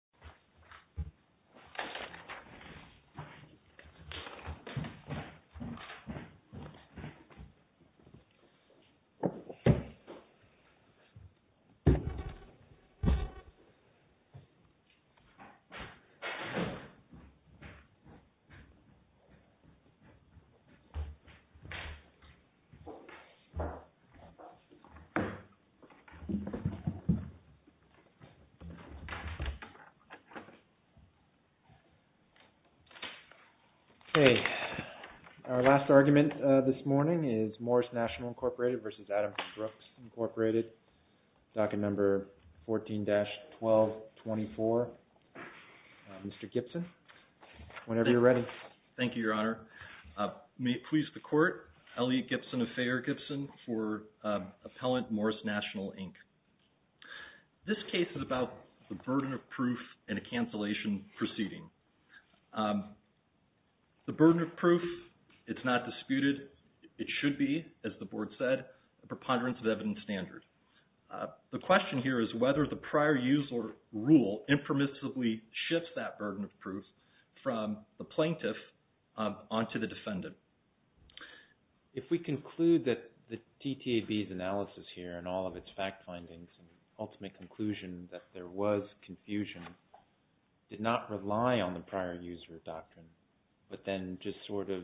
v. Adams & Brooks, Inc. v. Adams & Brooks, Inc. Okay, our last argument this morning is Morris National, Inc. v. Adams & Brooks, Inc., docket number 14-1224. Mr. Gibson, whenever you're ready. Thank you, Your Honor. May it please the Court, Elliot Gibson of Fayette-Gibson for Appellant Morris National, Inc. This case is about the burden of proof in a cancellation proceeding. The burden of proof, it's not disputed, it should be, as the Board said, a preponderance of evidence standard. The question here is whether the prior user rule impermissibly shifts that burden of proof from the plaintiff onto the defendant. If we conclude that the TTAB's analysis here and all of its fact findings and ultimate conclusion that there was confusion did not rely on the prior user doctrine, but then just sort of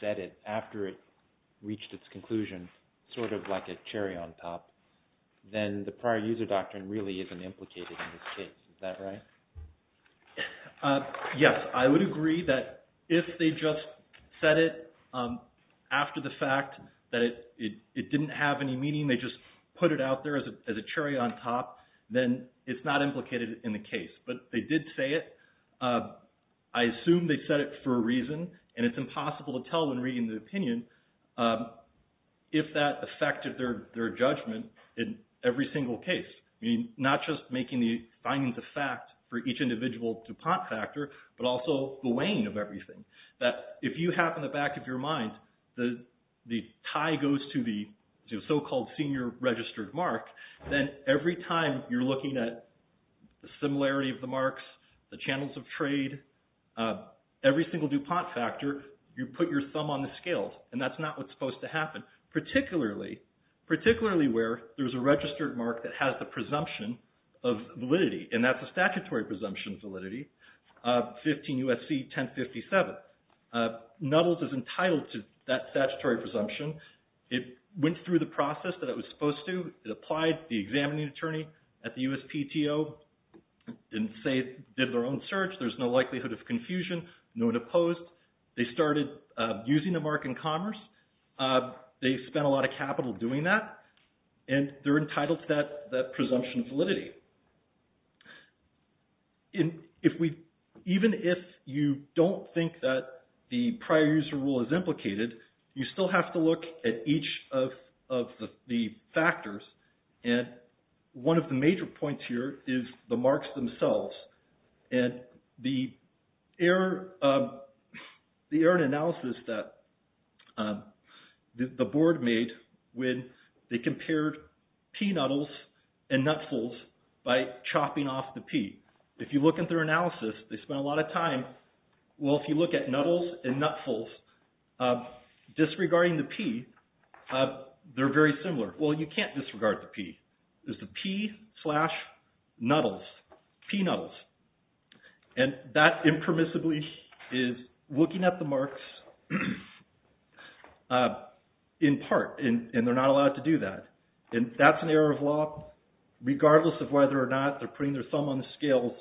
said it after it reached its conclusion, sort of like a cherry on top, then the prior user doctrine really isn't implicated in this case. Is that right? Yes, I would agree that if they just said it after the fact that it didn't have any meaning, they just put it out there as a cherry on top, then it's not implicated in the case. But they did say it. I assume they said it for a reason, and it's impossible to tell when reading the opinion if that affected their judgment in every single case. I mean, not just making the findings of fact for each individual DuPont factor, but also the weighing of everything. That if you have in the back of your mind the tie goes to the so-called senior registered mark, then every time you're looking at the similarity of the marks, the channels of trade, every single DuPont factor, you put your thumb on the scales. And that's not what's supposed to happen, particularly where there's a registered mark that has the presumption of validity, and that's a statutory presumption of validity, 15 U.S.C. 1057. Nuttall's is entitled to that statutory presumption. It went through the process that it was supposed to. It applied to the examining attorney at the USPTO and did their own search. There's no likelihood of confusion, no one opposed. They started using the mark in commerce. They spent a lot of capital doing that, and they're entitled to that presumption of validity. Even if you don't think that the prior user rule is implicated, you still have to look at each of the factors. One of the major points here is the marks themselves. The error in analysis that the board made when they compared pea nuttalls and nutfulls by chopping off the pea. If you look at their analysis, they spent a lot of time. Well, if you look at nuttalls and nutfulls, disregarding the pea, they're very similar. Well, you can't disregard the pea. It's the pea slash nuttalls, pea nuttalls. That impermissibly is looking at the marks in part, and they're not allowed to do that. That's an error of law, regardless of whether or not they're putting their thumb on the scales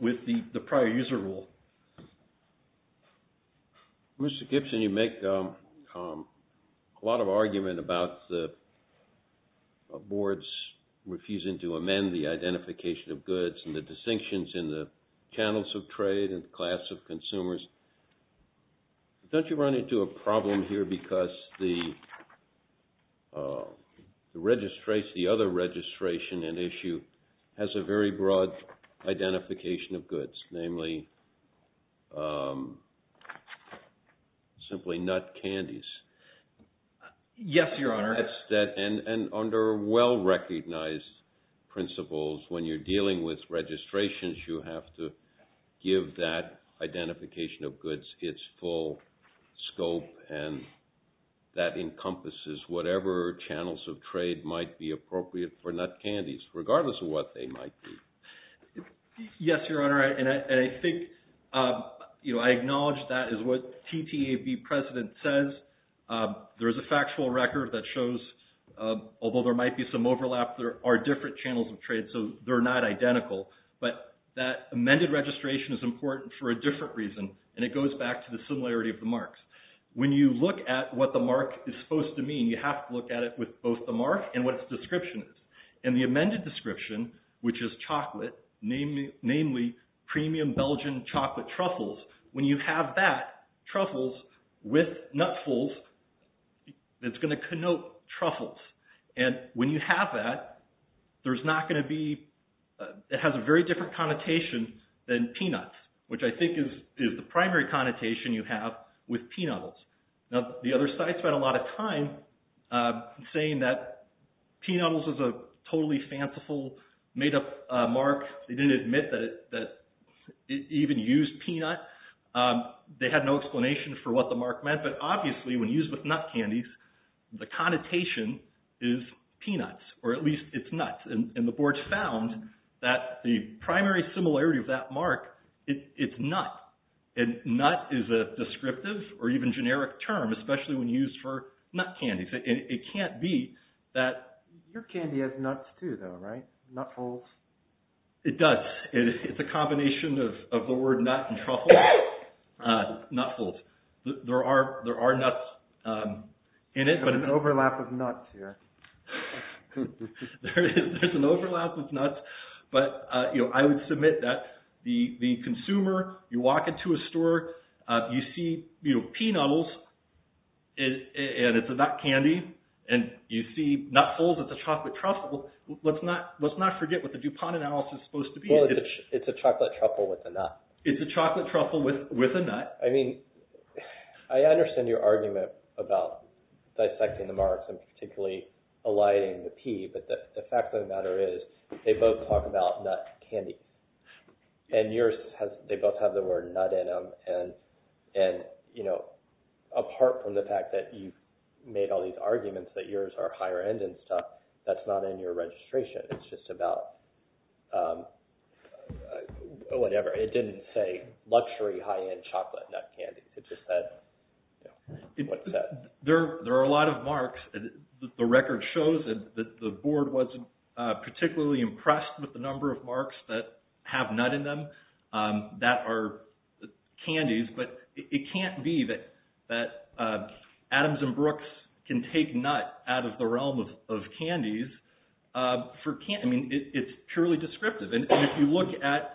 with the prior user rule. Mr. Gibson, you make a lot of argument about the boards refusing to amend the identification of goods and the distinctions in the channels of trade and class of consumers. Don't you run into a problem here because the other registration and issue has a very broad identification of goods? Namely, simply nut candies. Yes, Your Honor. And under well-recognized principles, when you're dealing with registrations, you have to give that identification of goods its full scope, and that encompasses whatever channels of trade might be appropriate for nut candies, regardless of what they might be. Yes, Your Honor, and I acknowledge that is what TTAB precedent says. There is a factual record that shows, although there might be some overlap, there are different channels of trade, so they're not identical. But that amended registration is important for a different reason, and it goes back to the similarity of the marks. When you look at what the mark is supposed to mean, you have to look at it with both the mark and what its description is. And the amended description, which is chocolate, namely premium Belgian chocolate truffles, when you have that, truffles with nutfuls, it's going to connote truffles. And when you have that, there's not going to be...it has a very different connotation than peanuts, which I think is the primary connotation you have with peanuts. Now, the other side spent a lot of time saying that peanuts is a totally fanciful, made-up mark. They didn't admit that it even used peanuts. They had no explanation for what the mark meant, but obviously when used with nut candies, the connotation is peanuts, or at least it's nuts. And the board found that the primary similarity of that mark, it's nut. And nut is a descriptive or even generic term, especially when used for nut candies. It can't be that... Nutfuls. There are nuts in it, but... There's an overlap of nuts here. There's an overlap of nuts, but I would submit that the consumer, you walk into a store, you see peanuts, and it's a nut candy, and you see nutfuls, it's a chocolate truffle. Let's not forget what the DuPont analysis is supposed to be. Well, it's a chocolate truffle with a nut. It's a chocolate truffle with a nut. I mean, I understand your argument about dissecting the marks and particularly eliding the P, but the fact of the matter is they both talk about nut candy. And yours, they both have the word nut in them, and apart from the fact that you've made all these arguments that yours are higher-end and stuff, that's not in your registration. It's just about whatever. It didn't say luxury high-end chocolate nut candy. It just said what it said. There are a lot of marks. The record shows that the board wasn't particularly impressed with the number of marks that have nut in them that are candies, but it can't be that Adams & Brooks can take nut out of the realm of candies. I mean, it's purely descriptive, and if you look at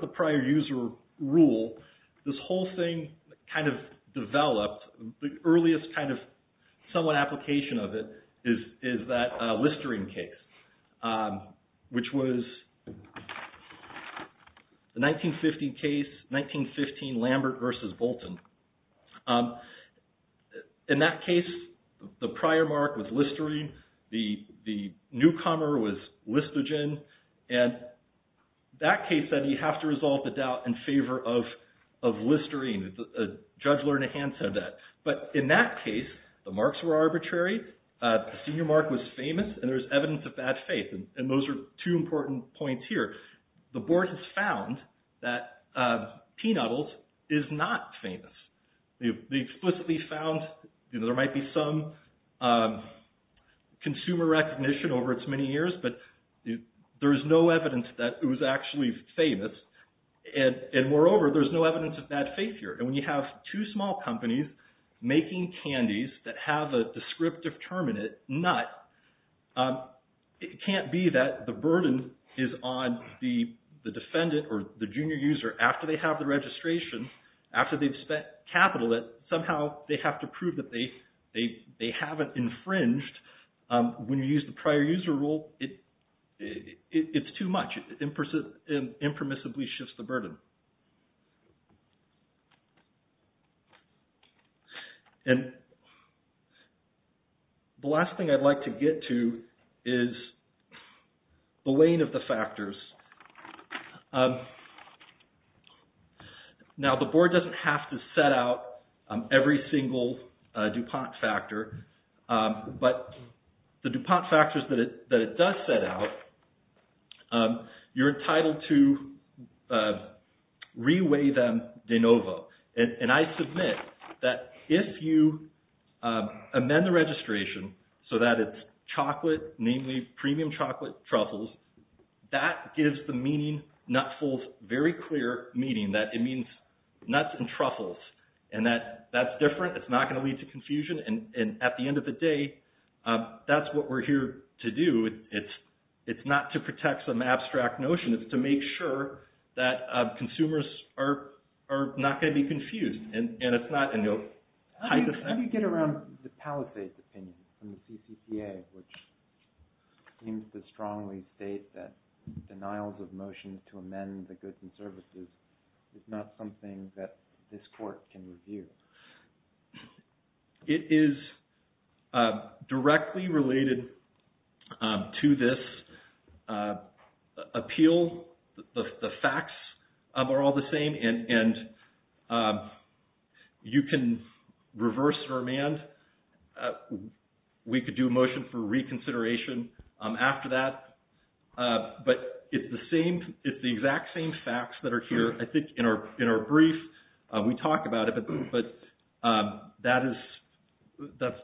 the prior user rule, this whole thing kind of developed. The earliest kind of somewhat application of it is that Listerine case, which was the 1950 case, 1915 Lambert versus Bolton. In that case, the prior mark was Listerine. The newcomer was Listogen, and that case said you have to resolve the doubt in favor of Listerine. A judge learned a hand from that. But in that case, the marks were arbitrary. The senior mark was famous, and there's evidence of bad faith, and those are two important points here. The board has found that Peanuttles is not famous. They've explicitly found there might be some consumer recognition over its many years, but there's no evidence that it was actually famous, and moreover, there's no evidence of bad faith here. And when you have two small companies making candies that have a descriptive term in it, nut, it can't be that the burden is on the defendant or the junior user after they have the registration, after they've spent capital, that somehow they have to prove that they haven't infringed. When you use the prior user rule, it's too much. It impermissibly shifts the burden. And the last thing I'd like to get to is the weigh-in of the factors. Now, the board doesn't have to set out every single DuPont factor, but the DuPont factors that it does set out, you're entitled to re-weighting. And I submit that if you amend the registration so that it's chocolate, namely premium chocolate truffles, that gives the meaning, Nutful's very clear meaning, that it means nuts and truffles, and that's different, it's not going to lead to confusion. And at the end of the day, that's what we're here to do. It's not to protect some abstract notion, it's to make sure that consumers are not going to be confused. How do you get around the Palisades opinion from the CCCA, which seems to strongly state that denials of motion to amend the goods and services is not something that this court can review? It is directly related to this appeal. The facts are all the same, and you can reverse or amend. We could do a motion for reconsideration after that. But it's the exact same facts that are here, I think, in our brief. We talk about it, but that's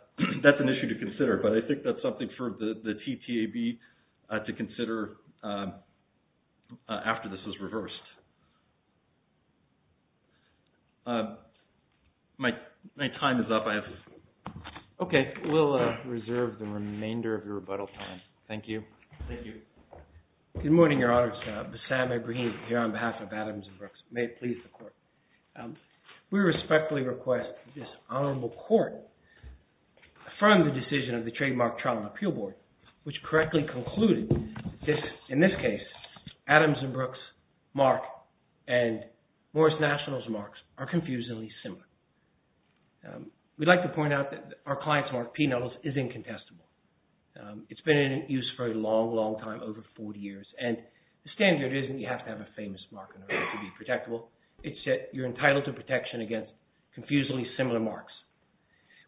an issue to consider. But I think that's something for the TTAB to consider after this is reversed. My time is up. Okay, we'll reserve the remainder of your rebuttal time. Thank you. Thank you. Good morning, Your Honors. Sam Ebrahimi here on behalf of Adams & Brooks. May it please the Court. We respectfully request that this Honorable Court affirm the decision of the Trademark Trial and Appeal Board, which correctly concluded that, in this case, Adams & Brooks' mark and Morris National's marks are confusingly similar. We'd like to point out that our client's mark, P. Nuttles, is incontestable. It's been in use for a long, long time, over 40 years, and the standard isn't you have to have a famous mark in order to be protectable. It's that you're entitled to protection against confusingly similar marks.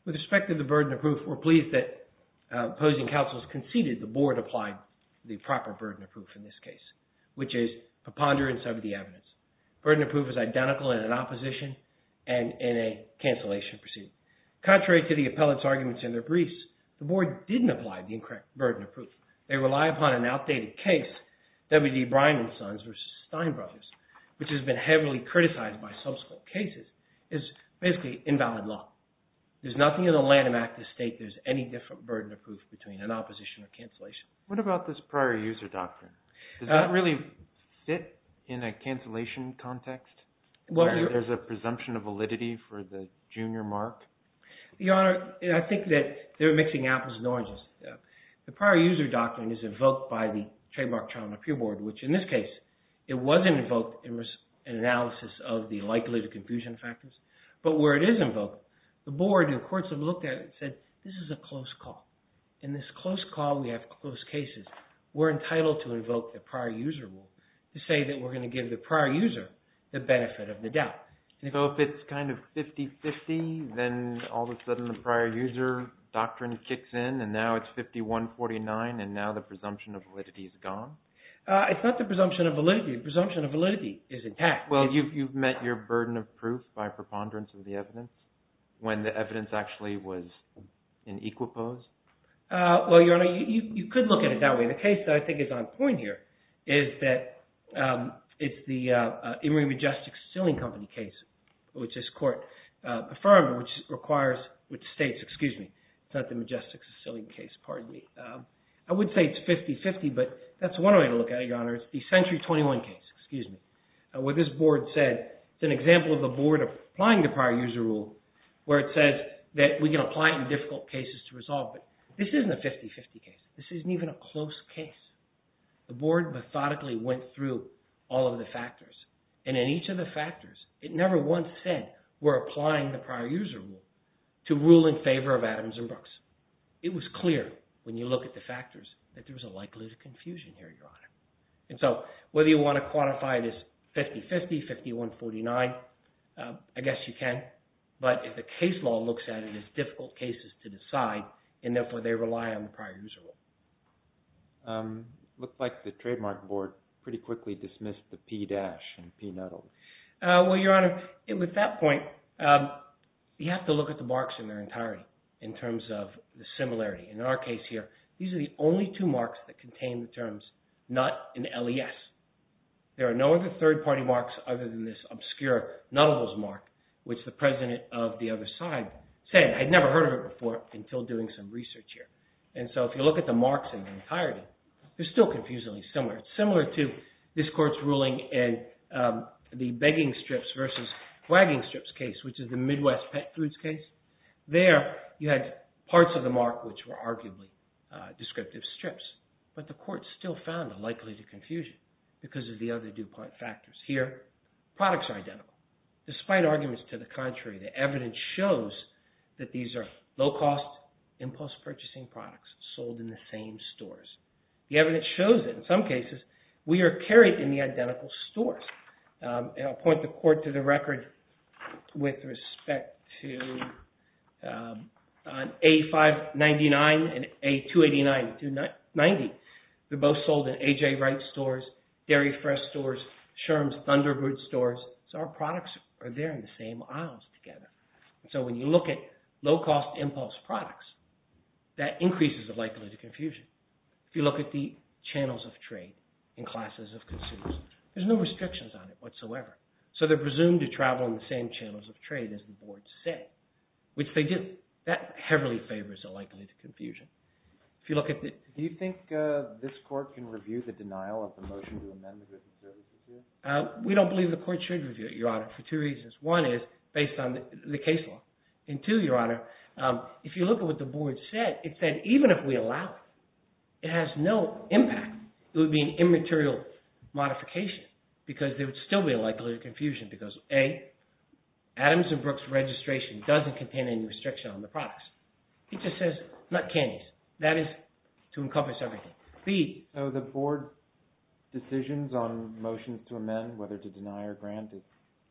With respect to the burden of proof, we're pleased that opposing counsels conceded the Board applied the proper burden of proof in this case, which is preponderance over the evidence. Burden of proof is identical in an opposition and in a cancellation proceeding. Contrary to the appellate's arguments in their briefs, the Board didn't apply the incorrect burden of proof. They rely upon an outdated case, W. D. Bryan & Sons v. Stein Brothers, which has been heavily criticized by subsequent cases. It's basically invalid law. There's nothing in the Lanham Act to state there's any different burden of proof between an opposition or cancellation. What about this prior user doctrine? Does that really fit in a cancellation context where there's a presumption of validity for the junior mark? Your Honor, I think that they're mixing apples and oranges. The prior user doctrine is invoked by the trademark trial and appeal board, which in this case, it wasn't invoked in analysis of the likelihood of confusion factors. But where it is invoked, the board and courts have looked at it and said, this is a close call. In this close call, we have close cases. We're entitled to invoke the prior user rule to say that we're going to give the prior user the benefit of the doubt. So if it's kind of 50-50, then all of a sudden the prior user doctrine kicks in, and now it's 51-49, and now the presumption of validity is gone? It's not the presumption of validity. The presumption of validity is intact. Well, you've met your burden of proof by preponderance of the evidence when the evidence actually was in equipose? Well, Your Honor, you could look at it that way. The case that I think is on point here is that it's the Emory Majestic Stealing Company case, which this court affirmed, which requires – which states – excuse me, it's not the Majestic Stealing case, pardon me. I would say it's 50-50, but that's one way to look at it, Your Honor. It's the Century 21 case, excuse me, where this board said – it's an example of the board applying the prior user rule where it says that we can apply it in difficult cases to resolve, but this isn't a 50-50 case. This isn't even a close case. The board methodically went through all of the factors, and in each of the factors, it never once said we're applying the prior user rule to rule in favor of Adams and Brooks. It was clear when you look at the factors that there was a likelihood of confusion here, Your Honor. And so whether you want to quantify this 50-50, 51-49, I guess you can. But if the case law looks at it as difficult cases to decide, and therefore, they rely on the prior user rule. It looks like the trademark board pretty quickly dismissed the P-dash and P-nuddle. Well, Your Honor, with that point, you have to look at the marks in their entirety in terms of the similarity. In our case here, these are the only two marks that contain the terms, not an LES. There are no other third-party marks other than this obscure Nuttall's mark, which the president of the other side said, I'd never heard of it before until doing some research here. And so if you look at the marks in their entirety, they're still confusingly similar. It's similar to this court's ruling in the begging strips versus wagging strips case, which is the Midwest Pet Foods case. There, you had parts of the mark which were arguably descriptive strips, but the court still found a likelihood of confusion because of the other DuPont factors. Here, products are identical. Despite arguments to the contrary, the evidence shows that these are low-cost impulse purchasing products sold in the same stores. The evidence shows that in some cases, we are carried in the identical stores. I'll point the court to the record with respect to A-599 and A-289 and A-290. They're both sold in A.J. Wright's stores, Dairy Fresh stores, Sherm's Thunderbird stores, so our products are there in the same aisles together. So when you look at low-cost impulse products, that increases the likelihood of confusion. If you look at the channels of trade in classes of consumers, there's no restrictions on it whatsoever. So they're presumed to travel in the same channels of trade as the board said, which they do. That heavily favors a likelihood of confusion. If you look at the – Do you think this court can review the denial of the motion to amend the business services here? We don't believe the court should review it, Your Honor, for two reasons. One is based on the case law. And two, Your Honor, if you look at what the board said, it said even if we allow it, it has no impact. It would be an immaterial modification because there would still be a likelihood of confusion because A, Adams & Brooks registration doesn't contain any restriction on the products. It just says nut candies. That is to encompass everything. So the board decisions on motions to amend, whether to deny or grant, is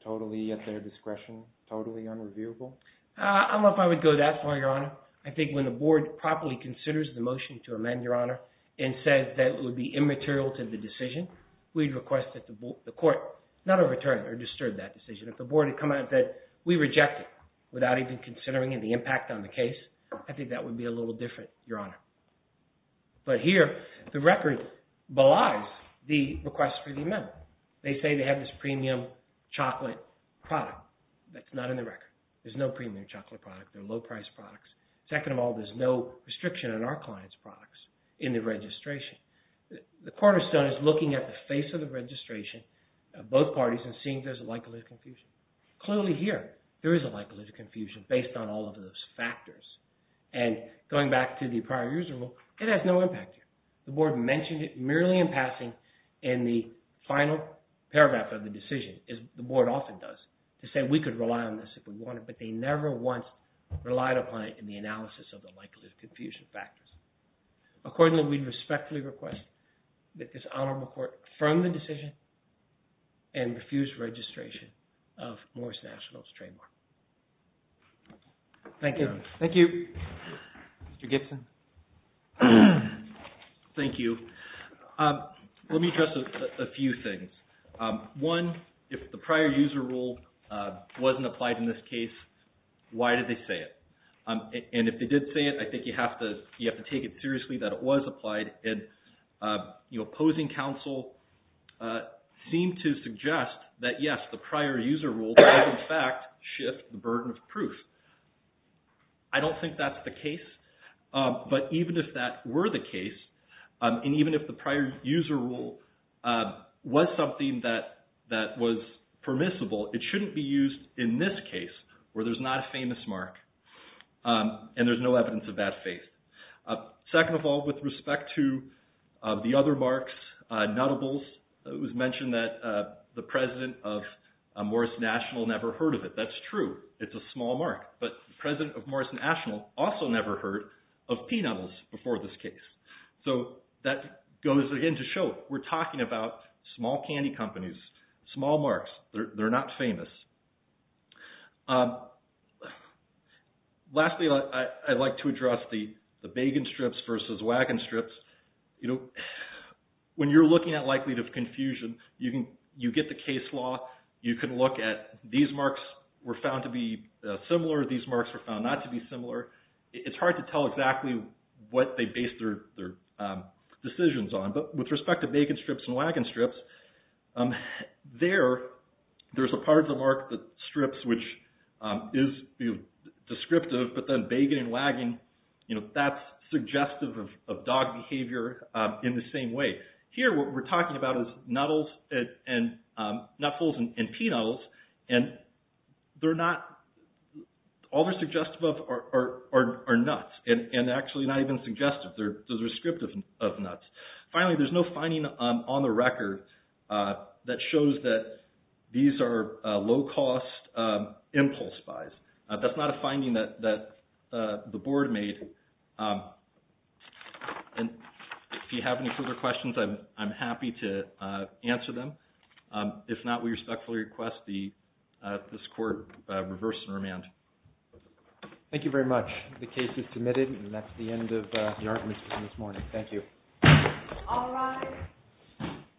totally at their discretion, totally unreviewable? I don't know if I would go that far, Your Honor. I think when the board properly considers the motion to amend, Your Honor, and says that it would be immaterial to the decision, we'd request that the court not overturn or disturb that decision. If the board had come out that we reject it without even considering the impact on the case, I think that would be a little different, Your Honor. But here, the record belies the request for the amendment. They say they have this premium chocolate product. That's not in the record. There's no premium chocolate product. They're low-priced products. Second of all, there's no restriction on our client's products in the registration. The cornerstone is looking at the face of the registration of both parties and seeing if there's a likelihood of confusion. Clearly here, there is a likelihood of confusion based on all of those factors. And going back to the prior user rule, it has no impact here. The board mentioned it merely in passing in the final paragraph of the decision, as the board often does, to say we could rely on this if we wanted, but they never once relied upon it in the analysis of the likelihood of confusion factors. Accordingly, we respectfully request that this honorable court affirm the decision and refuse registration of Morris National's trademark. Thank you. Thank you. Mr. Gibson. Thank you. Let me address a few things. One, if the prior user rule wasn't applied in this case, why did they say it? And if they did say it, I think you have to take it seriously that it was applied. And opposing counsel seemed to suggest that, yes, the prior user rule did in fact shift the burden of proof. I don't think that's the case. But even if that were the case, and even if the prior user rule was something that was permissible, it shouldn't be used in this case where there's not a famous mark and there's no evidence of that faith. Second of all, with respect to the other marks, nuttables, it was mentioned that the president of Morris National never heard of it. That's true. It's a small mark. But the president of Morris National also never heard of pea nuttables before this case. So that goes, again, to show we're talking about small candy companies, small marks. They're not famous. Lastly, I'd like to address the bagan strips versus wagon strips. When you're looking at likelihood of confusion, you get the case law. You can look at these marks were found to be similar. These marks were found not to be similar. It's hard to tell exactly what they based their decisions on. But with respect to bagan strips and wagon strips, there's a part of the mark that strips which is descriptive. But then bagan and wagon, that's suggestive of dog behavior in the same way. Here what we're talking about is nuttables and pea nuttables. And all they're suggestive of are nuts, and actually not even suggestive. They're descriptive of nuts. Finally, there's no finding on the record that shows that these are low-cost impulse buys. That's not a finding that the board made. And if you have any further questions, I'm happy to answer them. If not, we respectfully request this court reverse and remand. Thank you very much. The case is submitted, and that's the end of the arguments for this morning. Thank you. All rise.